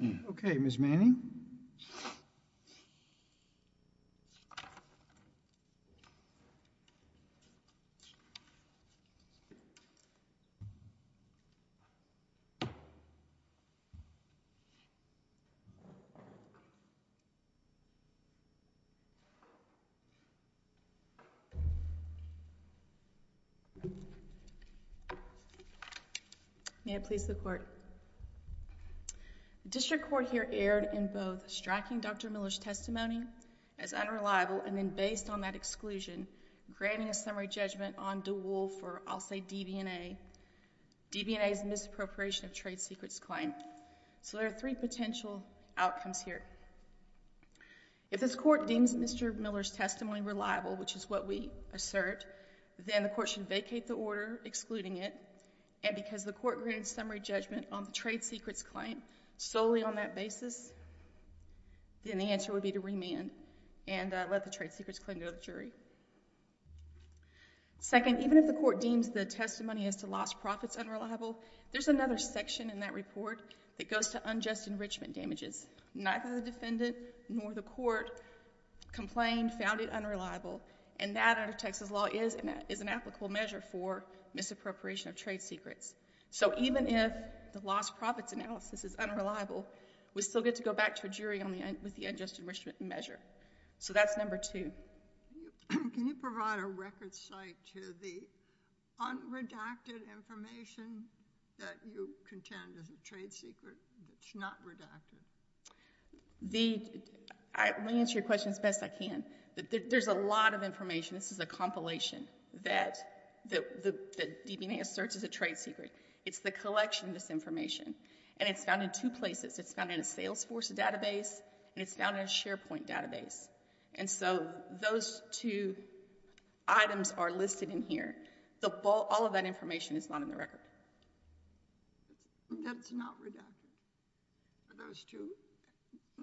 Dew 🔥🔥🔥🔥🔥🔥🔥🔥🔥🔥 Dews 🔥🔥🔥🔥🔥🔥🔥🔥🔥🔥 Miller's testimony as unreliable and then based on that exclusion, granting a summary judgment on DeWolf or I'll say DB&A. DB&A is misappropriation of trade secrets claim. So there are three potential outcomes here. If this court deems Mr. Miller's testimony reliable, which is what we assert, then the court should vacate the order excluding it and because the court granted summary judgment on the trade secrets claim solely on that basis, then the answer would be to remand and let the trade secrets claim go to the jury. Second, even if the court deems the testimony as to lost profits unreliable, there's another section in that report that goes to unjust enrichment damages. Neither the defendant nor the court complained, found it unreliable, and that under Texas law is an applicable measure for misappropriation of trade secrets. So even if the lost profits analysis is unreliable, we still get to go back to a jury with the unjust enrichment measure. So that's number two. Can you provide a record site to the unredacted information that you contend is a trade secret that's not redacted? I'll answer your question as best I can. There's a lot of information. This is a compilation that DB&A asserts is a trade secret. It's the collection of this information and it's found in two places. It's found in a Salesforce database and it's found in a SharePoint database and so those two items are listed in here. All of that information is not in the record. That's not redacted? Those two?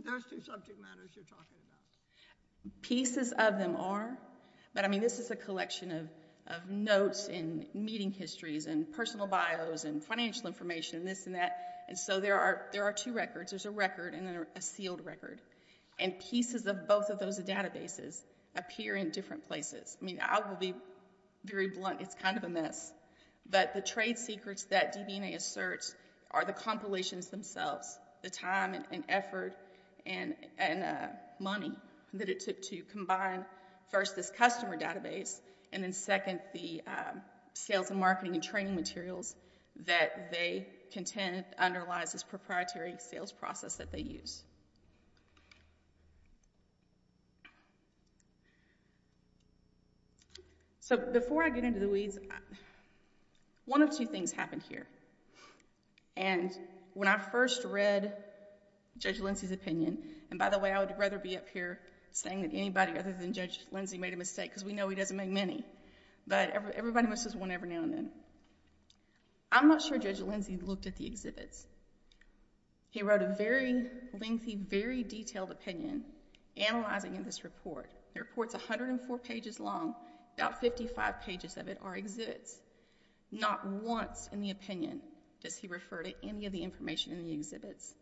Those two subject matters you're talking about? Pieces of them are, but I mean this is a collection of notes and meeting histories and personal bios and financial information and this and that and so there are there are two records. There's a record and a sealed record and pieces of both of those databases appear in different places. I mean I will be very blunt, it's kind of a mess, but the trade secrets that DB&A asserts are the compilations themselves, the time and effort and money that it took to combine first this customer database and then second the sales and marketing and training materials that they contend underlies this proprietary sales process that they use. So before I get into the weeds, one of two things happened here and when I first read Judge Lindsey's opinion and by the way I would rather be up here saying that anybody other than Judge Lindsey made a mistake because we know he doesn't make many, but everybody misses one every now and then. I'm not sure Judge Lindsey looked at the exhibits. He wrote a very lengthy, very detailed opinion analyzing in this report. The report's 104 pages long, about 55 pages of it are exhibits. Not once in the opinion does he refer to any of the information in the exhibits,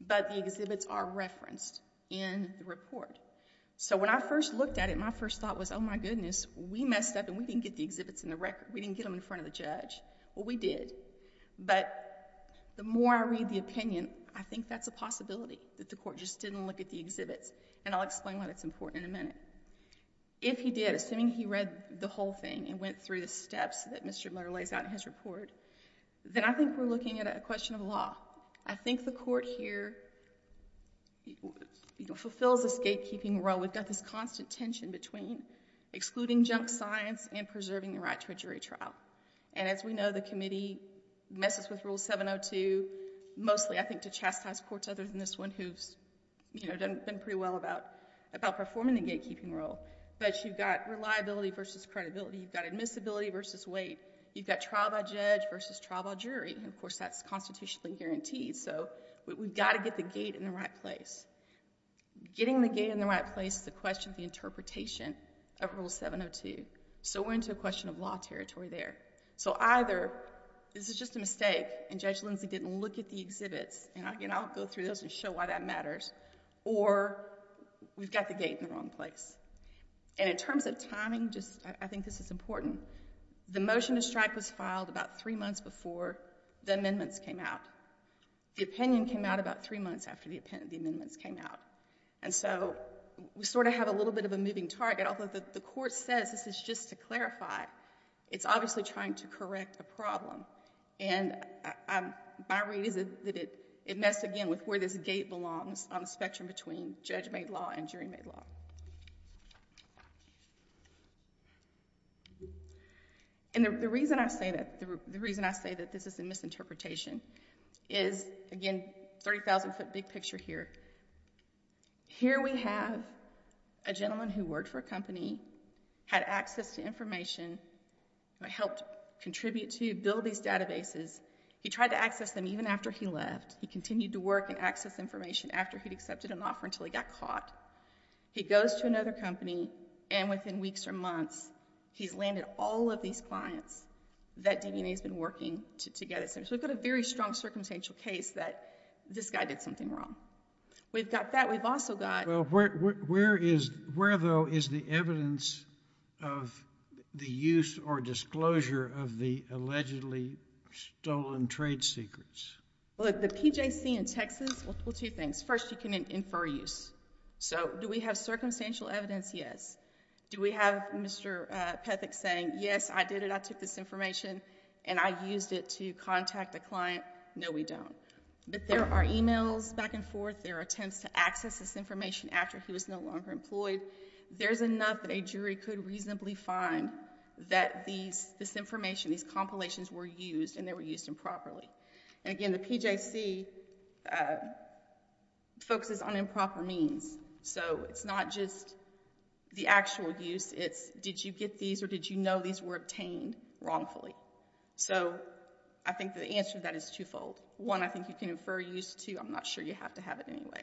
but the exhibits are referenced in the report. So when I first looked at it, my first thought was oh my goodness, we messed up and we didn't get the exhibits in the record. We didn't get them in front of the judge. Well we did, but the more I read the opinion, I think that's a possibility that the court just didn't look at the exhibits and I'll explain why that's important in a minute. If he did, assuming he read the whole thing and went through the steps that Mr. Miller lays out in his report, then I think we're looking at a question of law. I think the court here fulfills a scapekeeping role. We've got this constant tension between excluding junk science and preserving the right to a jury trial and as we know the committee messes with Rule 702 mostly I think to chastise courts other than this one who's done pretty well about performing the gatekeeping role, but you've got reliability versus credibility. You've got admissibility versus weight. You've got trial by judge versus trial by jury and of course that's constitutionally guaranteed. So we've got to get the gate in the right place. Getting the gate in the right place is a question of the interpretation of Rule 702. So we're into a question of law territory there. So either this is just a mistake and Judge Lindsey didn't look at the exhibits and again I'll go through those and show why that matters or we've got the gate in the wrong place. And in terms of timing just I think this is important. The motion to strike was filed about three months before the amendments came out. The opinion came out about three months after the amendments came out and so we sort of have a little bit of a moving target. Although the court says this is just to clarify, it's obviously trying to correct a problem and my read is that it messed again with where this gate belongs on the spectrum between judge made law and jury made law. And the reason I say that this is a misinterpretation is again 30,000 foot big picture here. Here we have a gentleman who worked for a company, had access to information, helped contribute to build these databases. He tried to access them even after he left. He continued to work and access information after he'd accepted an offer until he got caught. He goes to another company and within weeks or months he's landed all of these clients that DNA has been working to get. So we've got a very strong circumstantial case that this guy did something wrong. We've got that. We've also got... Well, where though is the evidence of the use or disclosure of the allegedly stolen trade secrets? Well, at the PJC in Texas, well, two things. First, you can infer use. So do we have circumstantial evidence? Yes. Do we have Mr. Pethick saying, yes, I did it. I took this information and I used it to contact a client? No, we don't. But there are emails back and forth. There are attempts to access this information after he was no longer employed. There's enough that a jury could reasonably find that this information, these compilations were used and they were used improperly. And again, the PJC focuses on improper means. So it's not just the actual use. It's did you get these or did you know these were obtained wrongfully? So I think the answer to that is twofold. One, I think you can infer use. Two, I'm not sure you have to have it anyway.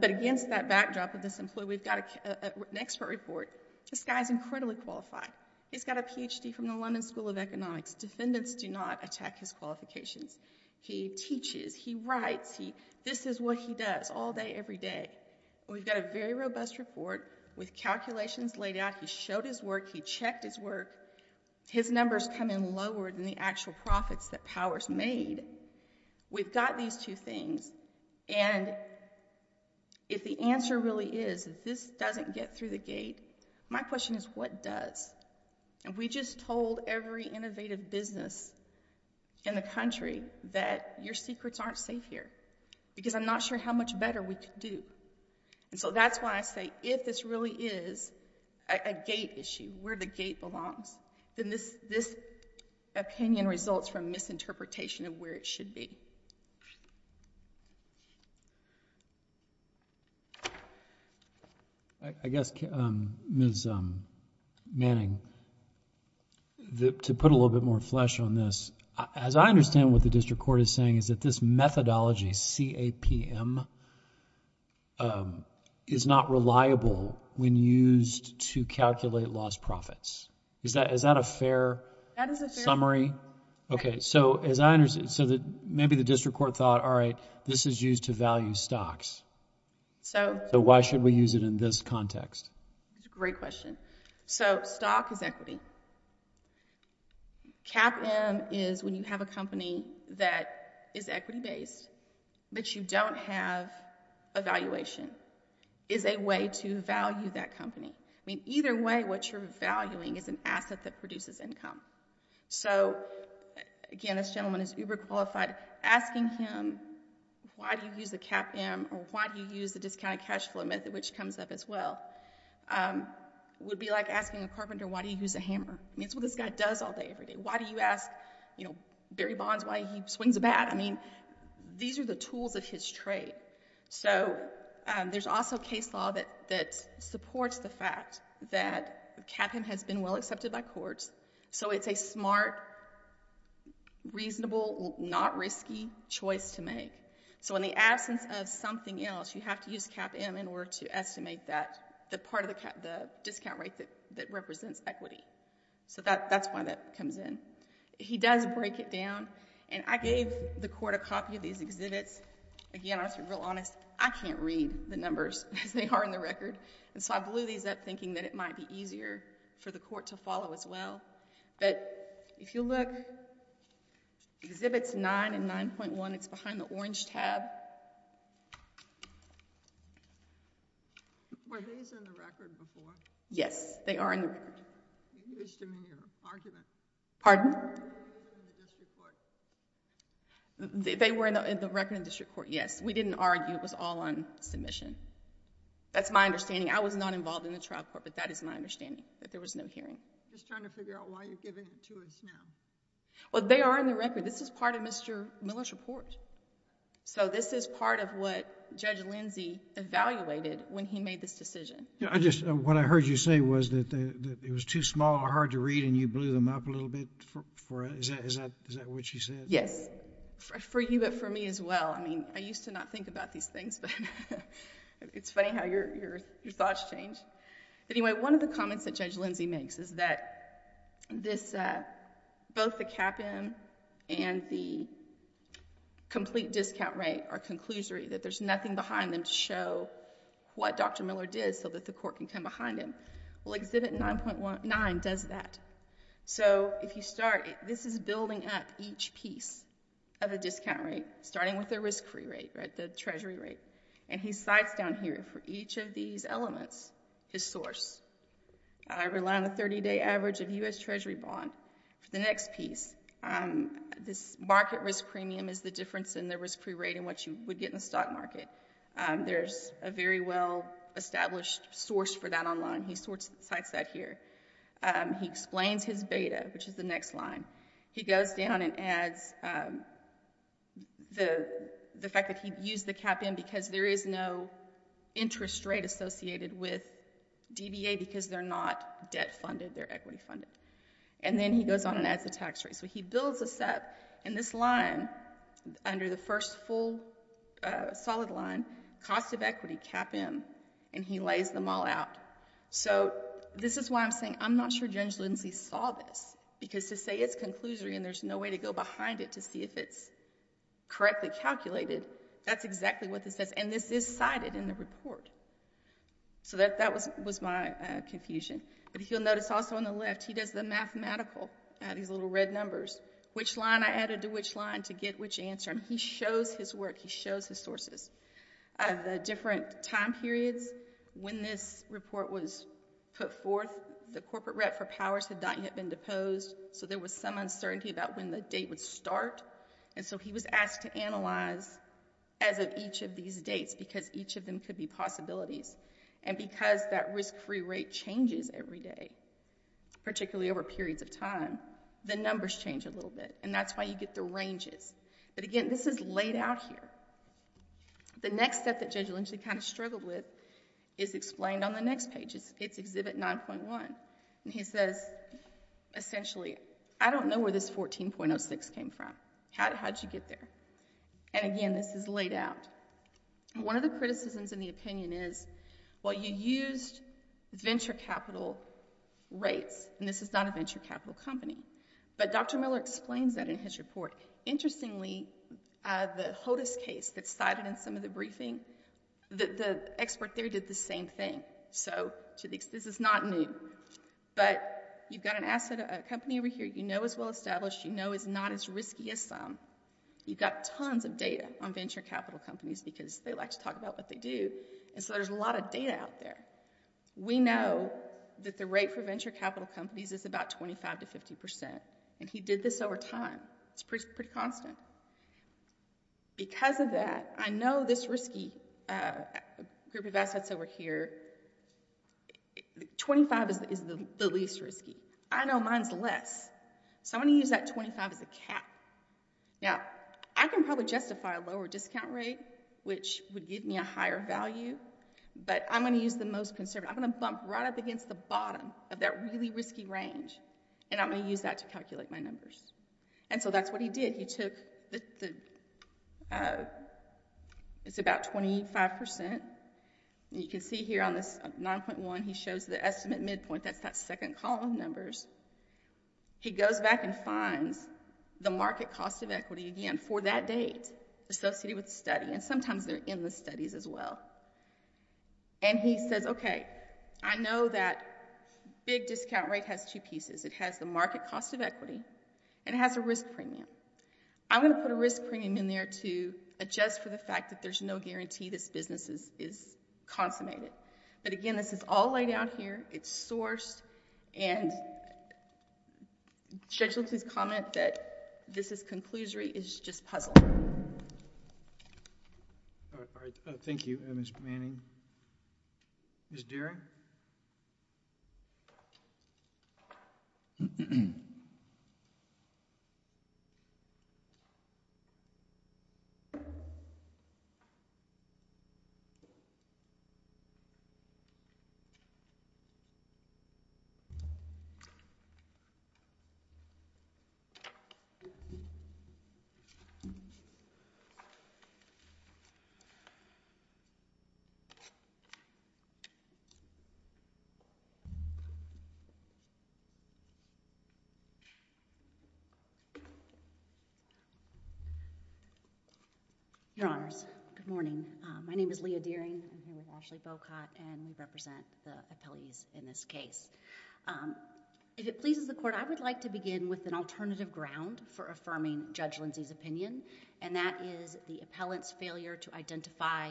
But against that backdrop of this employee, we've got an expert report. This guy's incredibly qualified. He's got a Ph.D. from the London School of Economics. Defendants do not attack his qualifications. He teaches. He writes. This is what he does all day every day. And we've got a very robust report with calculations laid out. He showed his work. He checked his work. His numbers come in lower than the actual profits that Powers made. We've got these two things. And if the answer really is this doesn't get through the gate, my question is what does? And we just told every innovative business in the country that your secrets aren't safe here because I'm not sure how much better we can do. And so that's why I say if this really is a gate issue, where the gate belongs, then this opinion results from misinterpretation of where it should be. I guess, Ms. Manning, to put a little bit more flesh on this, as I understand what the district court is saying is that this methodology CAPM is not reliable when used to calculate lost profits. Is that a fair summary? That is a fair... Okay. So as I understand, so maybe the district court thought, all right, this is used to value stocks. So why should we use it in this context? That's a great question. So stock is equity. CAPM is when you have a company that is equity-based, but you don't have a valuation, is a way to value that company. I mean, either way, what you're valuing is an asset that produces income. So again, this gentleman is uber qualified. Asking him why do you use the CAPM or why do you use the discounted cash flow method, which comes up as well, would be like asking a carpenter, why do you use a hammer? I mean, it's the tool this guy does all day, every day. Why do you ask Barry Bonds why he swings a bat? I mean, these are the tools of his trade. So there's also case law that supports the fact that CAPM has been well accepted by courts. So it's a smart, reasonable, not risky choice to make. So in the absence of something else, you have to use CAPM in order to estimate that part of the discount rate that represents equity. So that's why that comes in. He does break it down, and I gave the court a copy of these exhibits. Again, I'll be real honest, I can't read the numbers as they are in the record, and so I blew these up thinking that it might be easier for the court to follow as well. But if you look, Exhibits 9 and 9.1, it's behind the orange tab. Were these in the record before? Yes, they are in the record. You used them in your argument. Pardon? They were in the district court. They were in the record in the district court, yes. We didn't argue. It was all on submission. That's my understanding. I was not involved in the trial court, but that is my understanding, that there was no hearing. I'm just trying to figure out why you're giving it to us now. Well, they are in the record. This is part of Mr. Miller's report. So this is part of what Judge Lindsey evaluated when he made this decision. What I heard you say was that it was too small or hard to read, and you blew them up a little bit. Is that what she said? Yes. For you, but for me as well. I mean, I used to not think about these things. It's funny how your thoughts change. Anyway, one of the comments that Judge Lindsey makes is that both the cap-in and the complete discount rate are conclusory, that there's nothing behind them to show what Dr. Miller did so that the court can come behind him. Well, Exhibit 9.9 does that. So if you start, this is building up each piece of the discount rate, starting with the risk-free rate, the Treasury rate, and he cites down here for each of these elements his source. I rely on a 30-day average of U.S. Treasury bond. For the next piece, this market risk premium is the difference in the risk-free rate and what you would get in the stock market. There's a very well-established source for that online. He cites that here. He explains his beta, which is the next line. He goes down and adds the fact that he used the cap-in because there is no interest rate associated with DBA because they're not debt-funded, they're equity-funded. And then he goes on and adds the tax rate. So he builds this up, and this line, under the first full solid line, cost of equity, cap-in, and he lays them all out. So this is why I'm saying I'm not sure James Lindsay saw this, because to say it's conclusory and there's no way to go behind it to see if it's correctly calculated, that's exactly what this says, and this is cited in the report. So that was my confusion. But you'll notice also on the left, he does the mathematical, these little red numbers, which line I added to which line to get which answer, and he shows his work, he shows his sources. The different time periods when this report was put forth, the corporate rep for powers had not yet been deposed, so there was some uncertainty about when the date would start, and so he was asked to analyze as of each of these dates, because each of them could be possibilities. And because that risk-free rate changes every day, particularly over periods of time, the numbers change a little bit, and that's why you get the ranges. But again, this is laid out here. The next step that Judge Lindsay kind of struggled with is explained on the next page. It's Exhibit 9.1, and he says, essentially, I don't know where this 14.06 came from. How did you get there? And again, this is laid out. One of the criticisms in the opinion is, well, you used venture capital rates, and this is not a venture capital company. But Dr. Miller explains that in his report. Interestingly, the HOTUS case that's cited in some of the cases, the expert there did the same thing. So this is not new. But you've got an asset, a company over here, you know is well-established, you know is not as risky as some. You've got tons of data on venture capital companies, because they like to talk about what they do, and so there's a lot of data out there. We know that the rate for venture capital companies is about 25 to 50 percent, and he did this over time. It's pretty constant. Because of that, I know this risky group of assets over here, 25 is the least risky. I know mine's less, so I'm going to use that 25 as a cap. Now, I can probably justify a lower discount rate, which would give me a higher value, but I'm going to use the most conservative. I'm going to bump right up against the bottom of that really risky range, and I'm going to use that to calculate my numbers. And so that's what he did. He took the, it's about 25 percent. You can see here on this 9.1, he shows the estimate midpoint, that's that second column of numbers. He goes back and finds the market cost of equity again for that date associated with the study, and sometimes they're in the studies as well. And he says, okay, I know that big discount rate has two pieces. It has the market cost of equity, and it has a risk premium. I'm going to put a risk premium in there to adjust for the fact that there's no guarantee this business is consummated. But again, this is all laid out here. It's sourced, and Judge Lipson's comment that this is conclusory is just puzzling. All right. Thank you, Ms. Manning. Ms. Dearing? Your Honors, good morning. My name is Leah Dearing. I'm here with Ashley Bocot, and we represent the appellees in this case. If it pleases the Court, I would like to begin with an alternative ground for affirming Judge Lindsey's opinion, and that is the appellant's failure to identify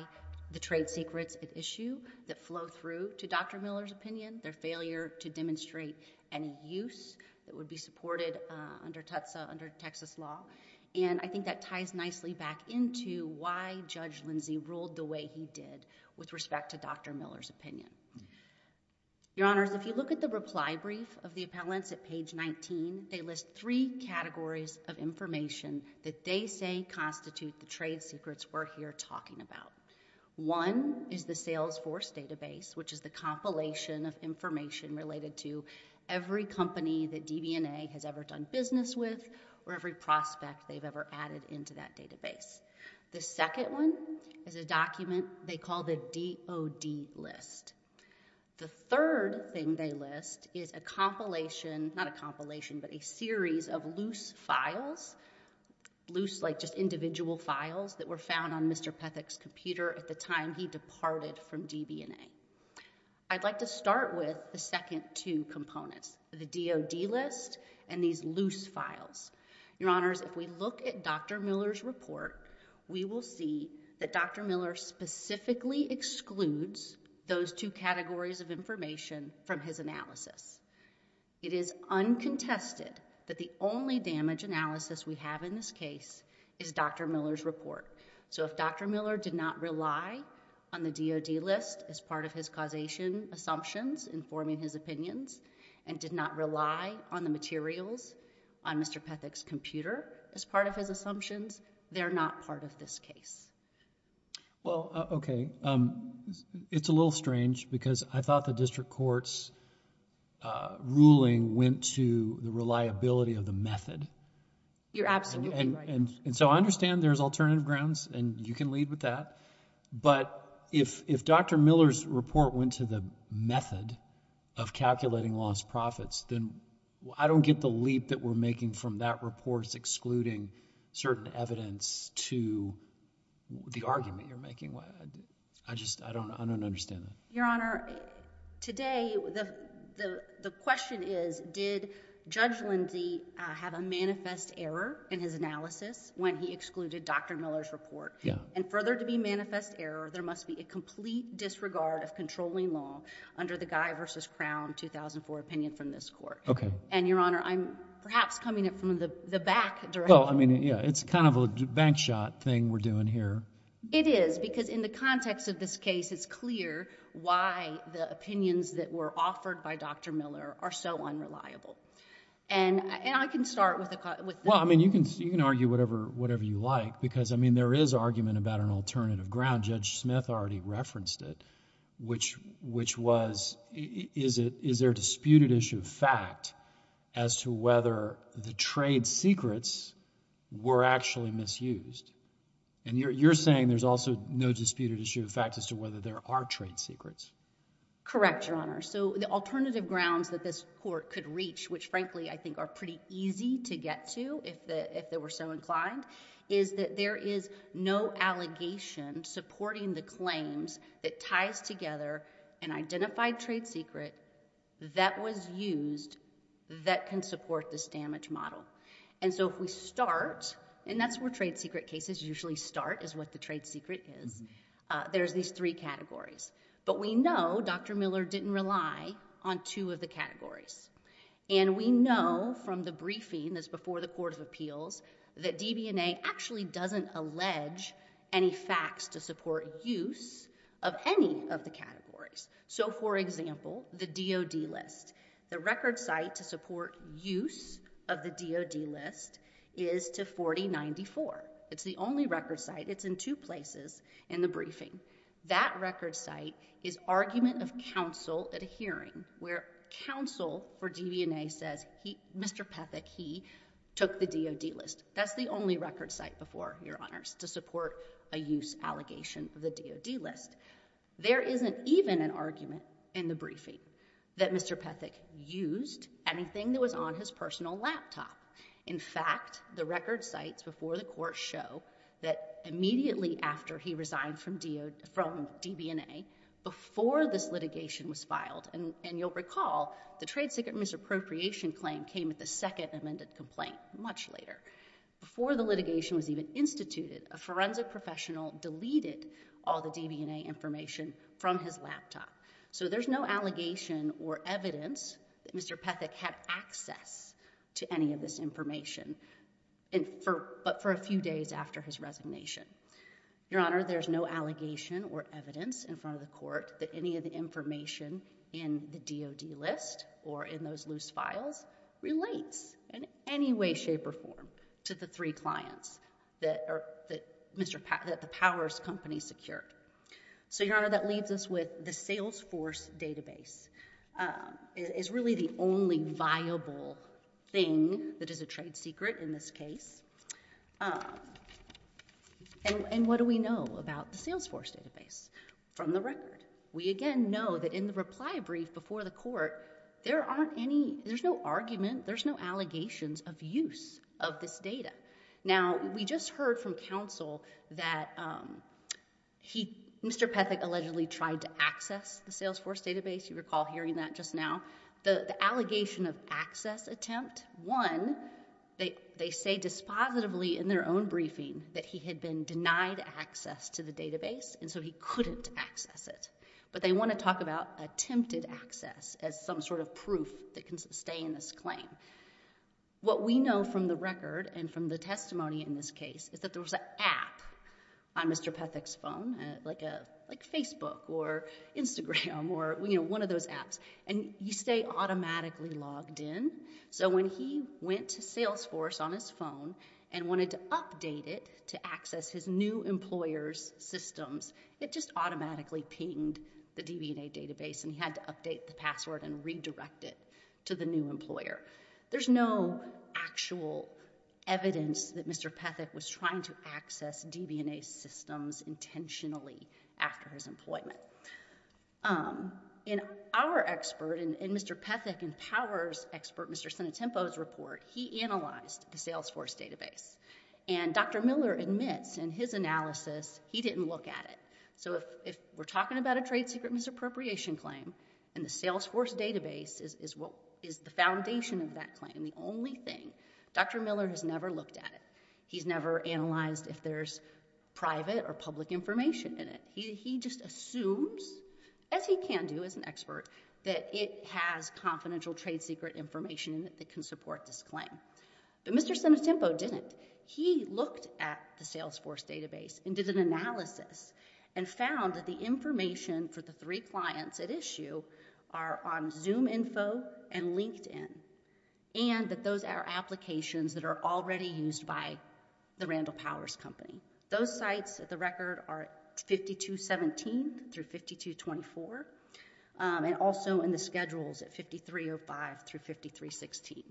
the trade secrets at issue that flow through to Dr. Miller's opinion, their failure to demonstrate any use that would be supported under Tutsa, under Texas law. And I think that ties nicely back into why Judge Lindsey ruled the way he did with respect to Dr. Miller's opinion. Your Honors, if you look at the reply brief of the appellants at page 19, they list three categories of information that they say constitute the trade secrets we're here talking about. One is the Salesforce database, which is the compilation of information related to every company that DB&A has ever done business with, or every prospect they've ever added into that database. The second one is a document they call the DOD list. The third thing they list is a compilation, not a compilation, but a series of loose files, loose like just individual files that were found on Mr. Pethick's computer at the time he departed from DB&A. I'd like to start with the second two components, the DOD list and these loose files. Your Honors, if we look at Dr. Miller's report, we will see that Dr. Miller specifically excludes those two categories of information from his analysis. It is uncontested that the only damage analysis we have in this case is Dr. Miller's report. So if Dr. Miller did not rely on the DOD list as part of his causation assumptions informing his opinions, and did not rely on the materials on Mr. Pethick's Well, okay. It's a little strange because I thought the district court's ruling went to the reliability of the method. You're absolutely right. I understand there's alternative grounds and you can lead with that, but if Dr. Miller's report went to the method of calculating lost profits, then I don't get the leap that we're excluding certain evidence to the argument you're making. I just, I don't understand that. Your Honor, today the question is, did Judge Lindsey have a manifest error in his analysis when he excluded Dr. Miller's report? And further to be manifest error, there must be a complete disregard of controlling law under the Guy v. Crown 2004 opinion from this court. Okay. And Your Honor, I'm perhaps coming at it from the back direction. Well, I mean, yeah, it's kind of a bank shot thing we're doing here. It is, because in the context of this case, it's clear why the opinions that were offered by Dr. Miller are so unreliable. And I can start with the Well, I mean, you can argue whatever you like because, I mean, there is argument about an alternative ground. Judge Smith already referenced it, which was, is there a disputed issue of fact as to whether the trade secrets were actually misused? And you're, you're saying there's also no disputed issue of fact as to whether there are trade secrets? Correct, Your Honor. So the alternative grounds that this court could reach, which frankly I think are pretty easy to get to if the, if they were so inclined, is that there is no allegation supporting the claims that ties together an identified trade secret that was used that can support this damage model. And so if we start, and that's where trade secret cases usually start is what the trade secret is, there's these three categories. But we know Dr. Miller didn't rely on two of the categories. And we know from the briefing that's before the Court of Appeals that DBNA actually doesn't allege any facts to support use of any of the categories. So for example, the DOD list, the record site to support use of the DOD list is to 4094. It's the only record site. It's in two places in the briefing. That record site is argument of counsel at a hearing where counsel for DBNA says he, Mr. Pethick, he took the DOD list. That's the only record site before, Your Honors, to support a use allegation of the DOD list. There isn't even an argument in the briefing that Mr. Pethick used anything that was on his personal laptop. In fact, the record sites before the court show that immediately after he resigned from DBNA, before this litigation was filed, and you'll recall the trade secret misappropriation claim came at the second amended complaint much later. Before the litigation was even instituted, a forensic professional deleted all the DBNA information from his laptop. So there's no allegation or evidence that Mr. Pethick had access to any of this information, but for a few days after his resignation. Your Honor, there's no allegation or evidence in front of the court in any way, shape, or form to the three clients that the Powers Company secured. So Your Honor, that leaves us with the Salesforce database. It's really the only viable thing that is a trade secret in this case. And what do we know about the Salesforce database from the record? We again know that in the reply brief before the court, there's no argument, there's no allegations of use of this data. Now, we just heard from counsel that Mr. Pethick allegedly tried to access the Salesforce database. You recall hearing that just now. The allegation of access attempt, one, they say dispositively in their own briefing that he had been denied access to the database, and so he couldn't access it. But they want to talk about attempted access as some sort of proof that can sustain this claim. What we know from the record and from the testimony in this case is that there was an app on Mr. Pethick's phone, like Facebook or Instagram or one of those apps, and you stay automatically logged in. So when he went to Salesforce on his phone and wanted to update it to access his new employer's systems, it just automatically pinged the DB&A database and he had to update the password and redirect it to the new employer. There's no actual evidence that Mr. Pethick was trying to access DB&A systems intentionally after his employment. In our expert, in Mr. Pethick and Power's expert, Mr. Sinatempo's report, he analyzed the Salesforce database. And Dr. Miller admits in his analysis he didn't look at it. So if we're talking about a trade secret misappropriation claim and the Salesforce database is the foundation of that claim, the only thing, Dr. Miller has never looked at it. He's never analyzed if there's private or public information in it. He just assumes, as he can do as an expert, that it has confidential trade secret information in it that can support this claim. But Mr. Sinatempo didn't. He looked at the Salesforce database and did an analysis and found that the information for the three clients at issue are on Zoom info and LinkedIn. And that those are applications that are already used by the Randall Powers company. Those sites, at the record, are 5217 through 5224. And also in the schedules at 5305 through 5316.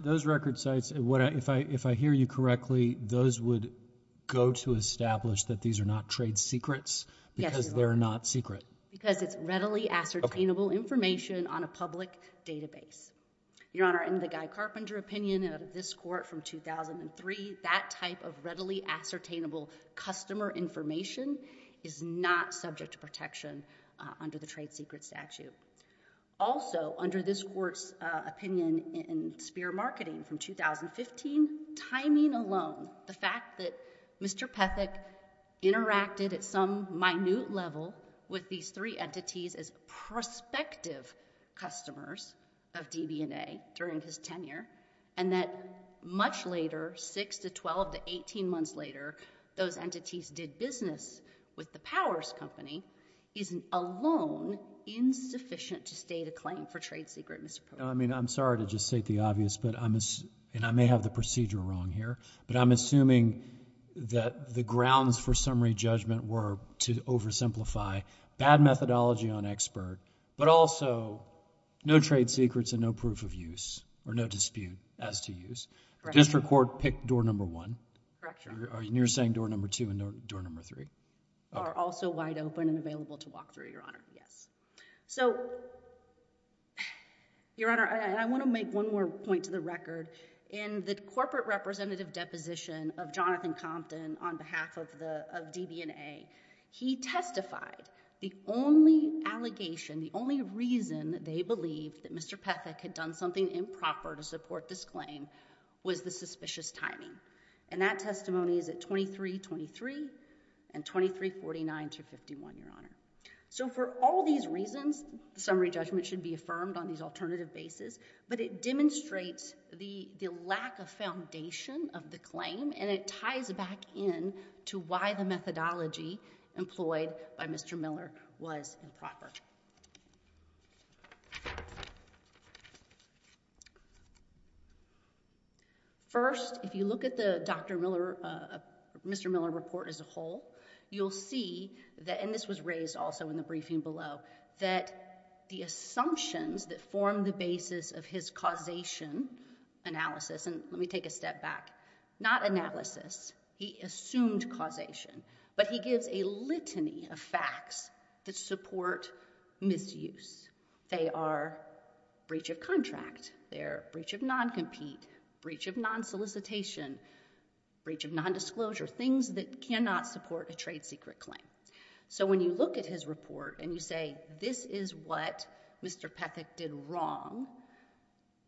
Those record sites, if I hear you correctly, those would go to establish that these are not trade secrets because they're not secret? Because it's readily ascertainable information on a public database. Your Honor, in the Guy Carpenter opinion of this court from 2003, that type of readily ascertainable customer information is not subject to protection under the trade secret statute. Also, under this court's opinion in Spear Marketing from 2015, timing alone, the fact that Mr. Pethick interacted at some minute level with these three entities as prospective customers of DB&A during his tenure, and that much later, 6 to 12 to 18 months later, those entities did business with the Powers company, isn't alone insufficient to state a claim for trade secret, Mr. Proctor. I mean, I'm sorry to just state the obvious, but I'm assuming, and I may have the procedure wrong here, but I'm assuming that the grounds for summary judgment were to oversimplify bad methodology on expert, but also no trade secrets and no proof of use or no dispute as to use. Correct. District Court picked door number one. Correct, Your Honor. And you're saying door number two and door number three? Are also wide open and available to walk through, Your Honor. Yes. So, Your Honor, I want to make one more point to the record. In the corporate representative deposition of Jonathan Compton on behalf of DB&A, he testified the only allegation, the only reason they believed that Mr. Pethick had done something improper to support this claim was the suspicious timing. And that testimony is at 2323 and 2349 to 51, Your Honor. So for all these reasons, the summary judgment should be affirmed on these alternative bases, but it demonstrates the lack of foundation of the claim and it ties back in to why the methodology employed by Mr. Miller was improper. First, if you look at the Dr. Miller, uh, Mr. Miller report as a whole, you'll see that, and this was raised also in the briefing below, that the assumptions that form the basis of his causation analysis, and let me take a step back, not analysis, he assumed causation, but he gives a litany of facts that support misuse. They are breach of contract, they're breach of non-compete, breach of non-solicitation, breach of non-disclosure, things that cannot support a trade secret claim. So when you look at his report and you say, this is what Mr. Pethick did wrong,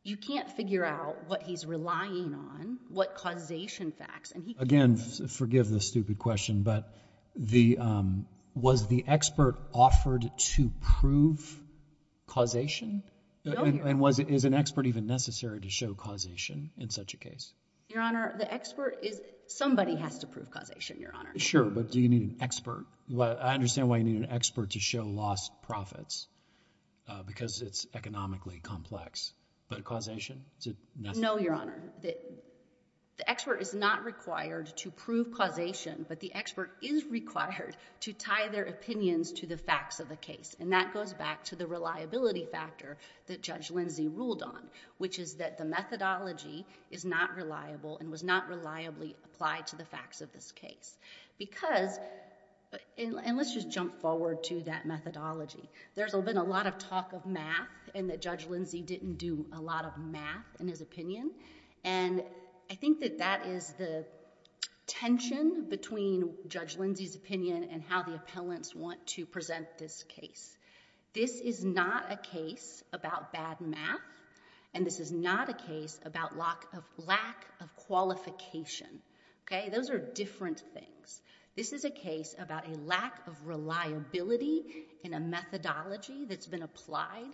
you can't figure out what he's relying on, what causation facts and he... Again, forgive the stupid question, but the, um, was the expert offered to prove causation? No, Your Honor. And was, is an expert even necessary to show causation in such a case? Your Honor, the expert is, somebody has to prove causation, Your Honor. Sure, but do you need an expert? I understand why you need an expert to show lost profits, because it's economically complex, but causation, is it necessary? No, Your Honor. The expert is not required to prove causation, but the expert is required to tie their opinions to the facts of the case, and that goes back to the reliability factor that Judge Lindsay ruled on, which is that the methodology is not reliable and was not reliably applied to the facts of this case. Because, and let's just jump forward to that methodology. There's been a lot of talk of math, and that Judge Lindsay didn't do a lot of math in his opinion, and I think that that is the tension between Judge Lindsay's opinion and how the appellants want to present this case. This is not a case about bad math, and this is not a case about lack of, lack of qualification. Okay? Those are different things. This is a case about a lack of reliability in a methodology that's been applied.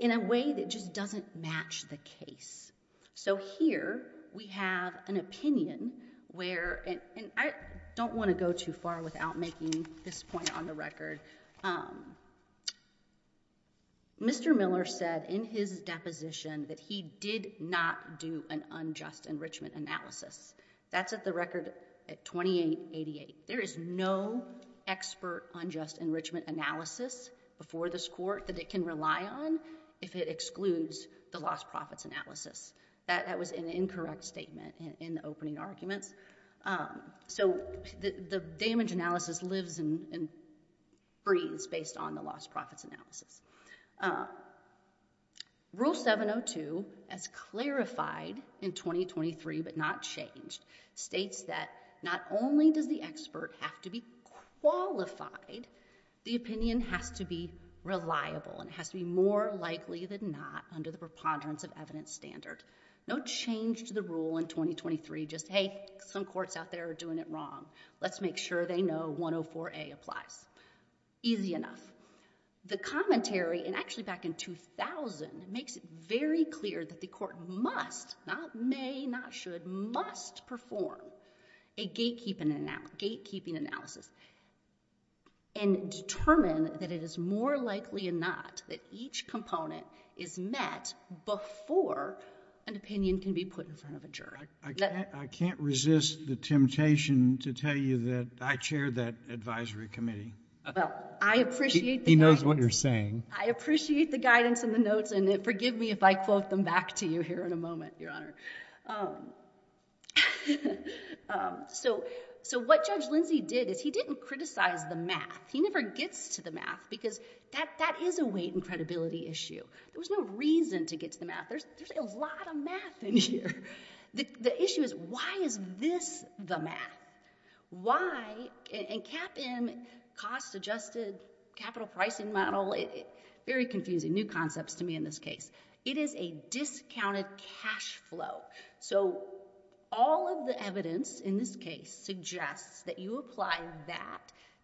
In a way that just doesn't match the case. So here, we have an opinion where, and I don't want to go too far without making this point on the record. Mr. Miller said in his deposition that he did not do an unjust enrichment analysis. That's at the record at 2888. There is no expert unjust enrichment analysis before this court that it can rely on if it excludes the lost profits analysis. That was an incorrect statement in the opening arguments. So the damage analysis lives and breathes based on the lost profits analysis. Rule 702, as clarified in 2023, but not changed, states that not only does the expert have to be qualified, the opinion has to be reliable and has to be more likely than not under the preponderance of evidence standard. No change to the rule in 2023, just, hey, some courts out there are doing it wrong. Let's make sure they know 104A applies. Easy enough. The commentary, and actually back in 2000, makes it very clear that the court must, not may, not should, must perform a gatekeeping analysis and determine that it is more likely than not that each component is met before an opinion can be put in front of a juror. I can't resist the temptation to tell you that I chaired that advisory committee. Well, I appreciate that. I appreciate the guidance in the notes, and forgive me if I quote them back to you here in a moment, Your Honor. So what Judge Lindsey did is he didn't criticize the math. He never gets to the math, because that is a weight and credibility issue. There was no reason to get to the math. There's a lot of math in here. The issue is, why is this the math? Why, and CAPM, cost-adjusted capital pricing model, very confusing, new concepts to me in this case. It is a discounted cash flow. So all of the evidence in this case suggests that you apply that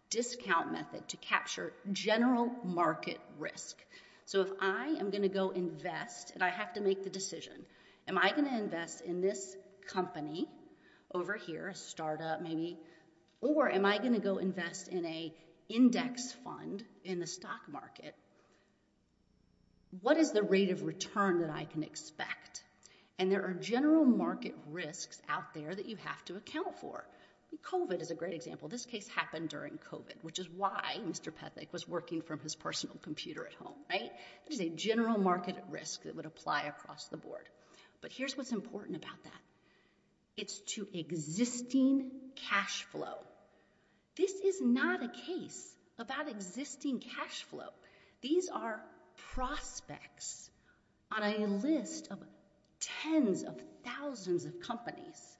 discount method to capture general market risk. So if I am going to go invest, and I have to make the decision, am I going to invest in this company over here, a startup maybe, or am I going to go invest in a index fund in the stock market, what is the rate of return that I can expect? And there are general market risks out there that you have to account for. COVID is a great example. This case happened during COVID, which is why Mr. Pethick was working from his personal computer at home, right? There's a general market risk that would apply across the board. But here's what's important about that. It's to existing cash flow. This is not a case about existing cash flow. These are prospects on a list of tens of thousands of companies.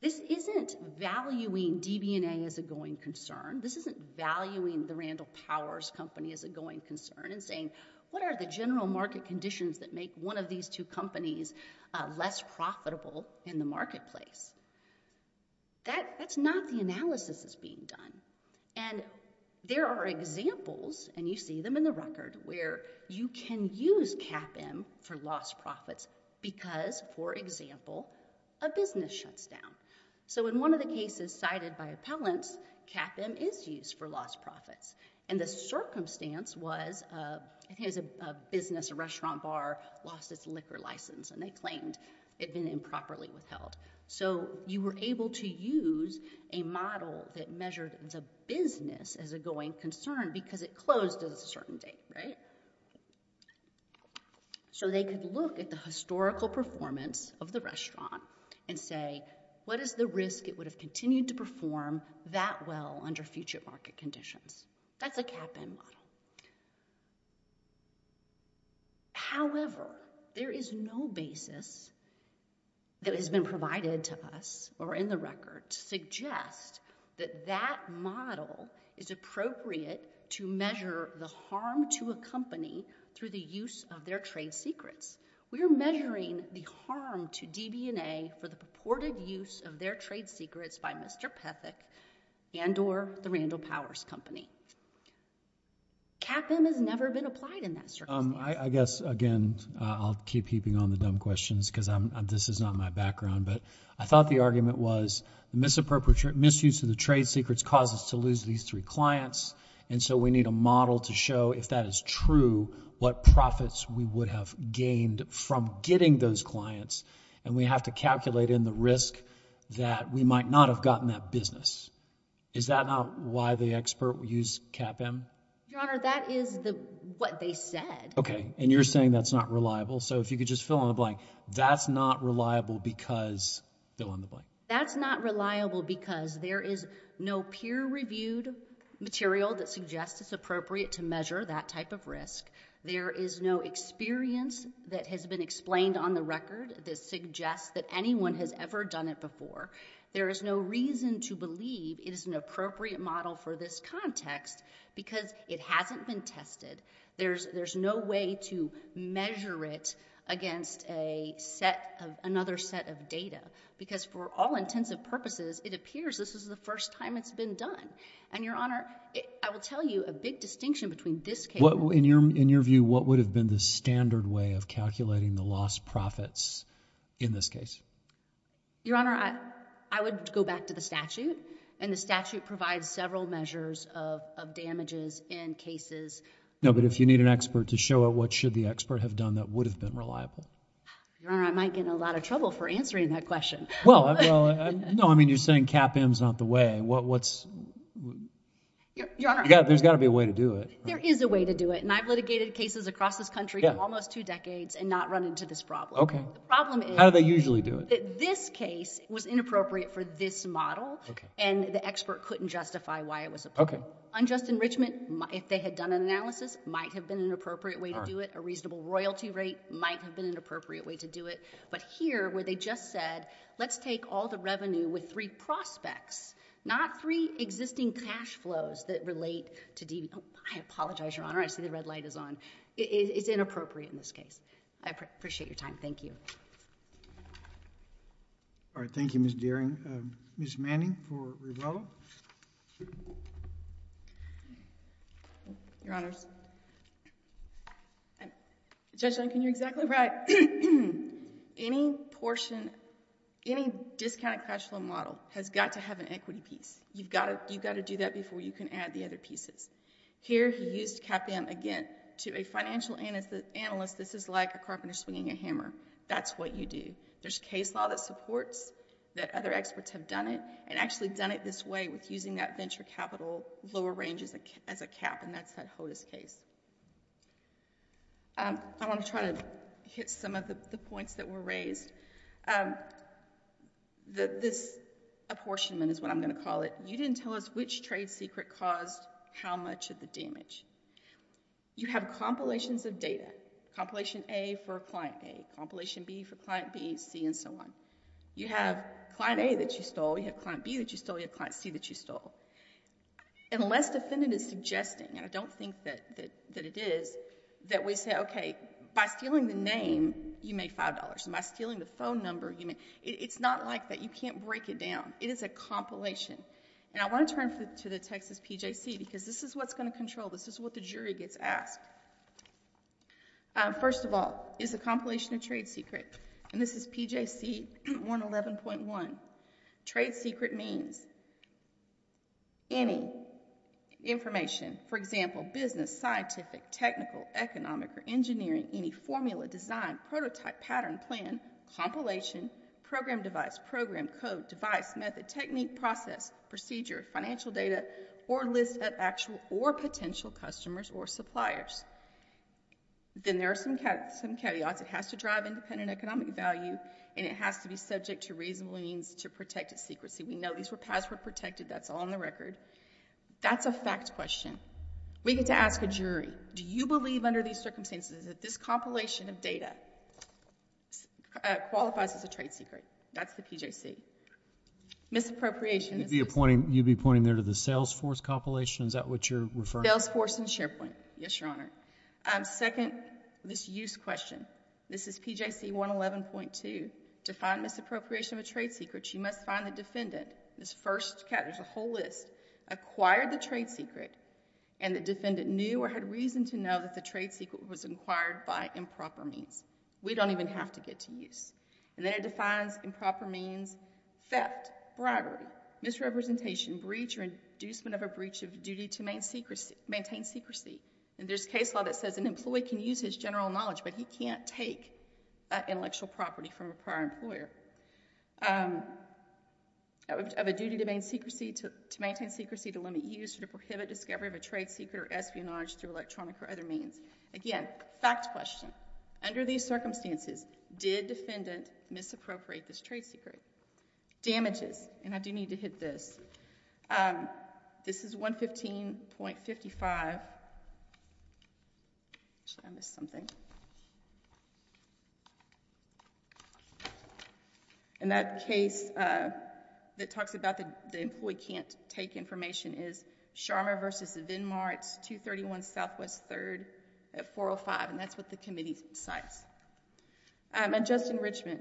This isn't valuing DB&A as a going concern. This isn't valuing the Randall Powers company as a going concern and saying, what are the general market conditions that make one of these two companies less profitable in the marketplace? That's not the analysis that's being done. And there are examples, and you see them in the record, where you can use CAPM for lost profits because, for example, a business shuts down. So in one of the cases cited by appellants, CAPM is used for lost profits. And the circumstance was, I think it was a business, a restaurant bar lost its liquor license, and they claimed it had been improperly withheld. So you were able to use a model that measured the business as a going concern because it closed at a certain date, right? So they could look at the historical performance of the restaurant and say, what is the risk it would have continued to perform that well under future market conditions? That's a CAPM model. However, there is no basis that has been provided to us, or in the record, to suggest that that model is appropriate to measure the harm to a company through the use of their trade secrets. We are measuring the harm to DB&A for the purported use of their trade secrets by Mr. Pethick and or the Randall Powers Company. CAPM has never been applied in that circumstance. I guess, again, I'll keep keeping on the dumb questions because this is not my background, but I thought the argument was misuse of the trade secrets causes to lose these three clients, and so we need a model to show, if that is true, what profits we would have gained from getting those clients, and we have to calculate in the risk that we might not have gotten that business. Is that not why the expert used CAPM? Your Honor, that is what they said. Okay, and you're saying that's not reliable, so if you could just fill in the blank, that's not reliable because, fill in the blank. There is no material that suggests it's appropriate to measure that type of risk. There is no experience that has been explained on the record that suggests that anyone has ever done it before. There is no reason to believe it is an appropriate model for this context because it hasn't been tested. There's no way to measure it against another set of data because, for all intents and purposes, it appears this is the first time it's been done, and Your Honor, I will tell you a big distinction between this case... In your view, what would have been the standard way of calculating the lost profits in this case? Your Honor, I would go back to the statute, and the statute provides several measures of damages in cases... No, but if you need an expert to show it, what should the expert have done that would have been reliable? Your Honor, I might get in a lot of trouble for answering that question. Well, no, I mean you're saying CAPM is not the way. What's... Your Honor... There's got to be a way to do it. There is a way to do it, and I've litigated cases across this country for almost two decades and not run into this problem. Okay. The problem is... How do they usually do it? This case was inappropriate for this model, and the expert couldn't justify why it was appropriate. Okay. Unjust enrichment, if they had done an analysis, might have been an appropriate way to do it. A reasonable royalty rate might have been an appropriate way to do it. But here, where they just said, let's take a look at this case, let's take a look at this model. Let's take all the revenue with three prospects, not three existing cash flows that relate to... I apologize, Your Honor. I see the red light is on. It's inappropriate in this case. I appreciate your time. Thank you. All right. Thank you, Ms. Dearing. Ms. Manning for Rivello? Your Honors, Judge Lincoln, you're exactly right. Any portion... any discounted cash flow model has got to have an equity piece. You've got to do that before you can add the other pieces. Here, he used CAPM again. To a financial analyst, this is like a carpenter swinging a hammer. That's what you do. There's case law that supports that other experts have done it, and actually done it this way with using that venture capital lower range as a cap, and that's that HOTIS case. I want to try to hit some of the points that were raised. This apportionment is what I'm going to call it. You didn't tell us which trade secret caused how much of the damage. You have compilations of data, Compilation A for Client A, Compilation B for Client B, C and so on. You have Client A that you stole, you have Client B that you stole, you have Client C. What the defendant is suggesting, and I don't think that it is, that we say, okay, by stealing the name, you made $5, and by stealing the phone number, you made... It's not like that. You can't break it down. It is a compilation. I want to turn to the Texas PJC because this is what's going to control. This is what the jury gets asked. First of all, is the compilation a trade secret? This is PJC 111.1. Trade secret means any information, for example, business, scientific, technical, economic or engineering, any formula, design, prototype, pattern, plan, compilation, program device, program code, device, method, technique, process, procedure, financial data, or list of actual or potential customers or suppliers. Then there are some caveats. It has to drive independent economic value, and it has to be subject to reasonable means to protect its secrecy. We know these were password protected. That's on the record. That's a fact question. We get to ask a jury, do you believe under these circumstances that this compilation of data qualifies as a trade secret? That's the PJC. Misappropriation... You'd be pointing there to the Salesforce compilation? Is that what you're referring to? Salesforce and SharePoint, yes, Your Honor. Second, this use question. This is PJC 111.2. To find misappropriation of a trade secret, you must find the defendant, this first cat, there's a whole list, acquired the trade secret, and the defendant knew or had reason to know that the trade secret was acquired by improper means. We don't even have to get to use. Then it defines improper means, theft, bribery, misrepresentation, breach or inducement of a breach of duty to maintain secrecy. There's a case law that says an employee can use his general knowledge, but he can't take intellectual property from a prior employer. Of a duty to maintain secrecy to limit use or to prohibit discovery of a trade secret or espionage through electronic or other means. Again, fact question. Under these circumstances, did defendant misappropriate this trade secret? Damages, and I do need to hit this. This is 115.55. I missed something. In that case that talks about the employee can't take information is Sharma v. Venmar. It's 231 Southwest 3rd at 405, and that's what the committee cites. Adjusted enrichment.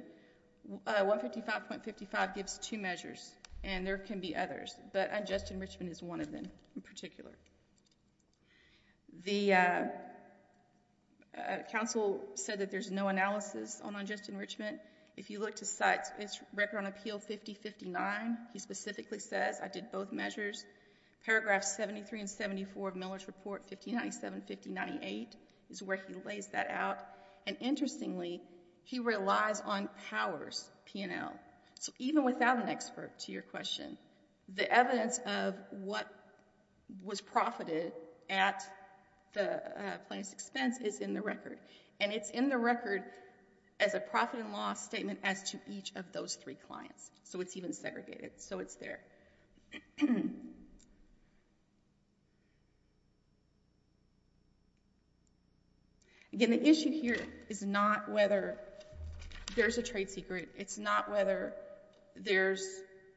155.55 gives two measures, and there can be others, but adjusted enrichment is one of them in particular. The counsel said that there's no analysis on adjusted enrichment. If you look to cite, it's record on appeal 50.59. He specifically says, I did both measures. Paragraph 73 and 74 of Miller's report, 1597.58 is where he lays that out, and interestingly, he relies on powers, P&L. Even without an expert, to your question, the evidence of what was profited at the plaintiff's expense is in the record, and it's in the record as a profit and loss statement as to each of those three clients. It's even segregated, so it's there. Again, the issue here is not whether there's a trade secret. It's not whether there's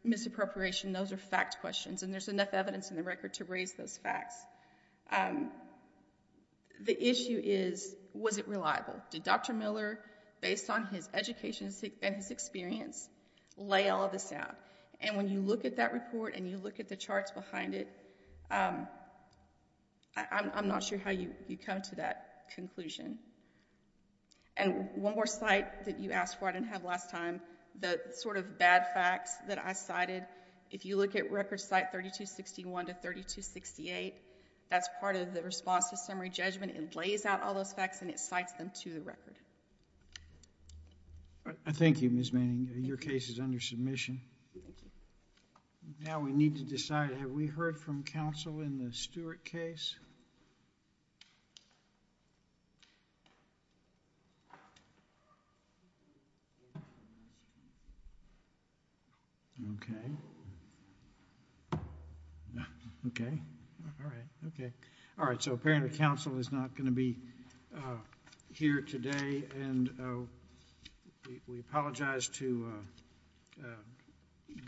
misappropriation. Those are fact questions, and there's enough evidence in the record to raise those facts. The issue is, was it reliable? Did Dr. Miller, based on his education and his experience, lay all of this out? When you look at that report and you look at the charts behind it, I'm not sure how you come to that conclusion. One more site that you asked for, I didn't have last time, the sort of bad facts that I cited. If you look at record site 3261 to 3268, that's part of the response to summary judgment. It lays out all those facts, and it cites them to the record. Thank you, Ms. Manning. Your case is under submission. Now we need to decide, have we heard from counsel in the Stewart case? Okay. All right, so apparently counsel is not going to be here today, and we apologize to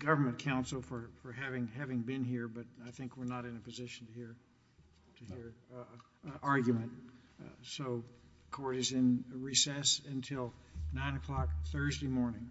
government counsel for having been here, but I think we're not in a position to hear an argument. So court is in recess until 9 o'clock Thursday morning.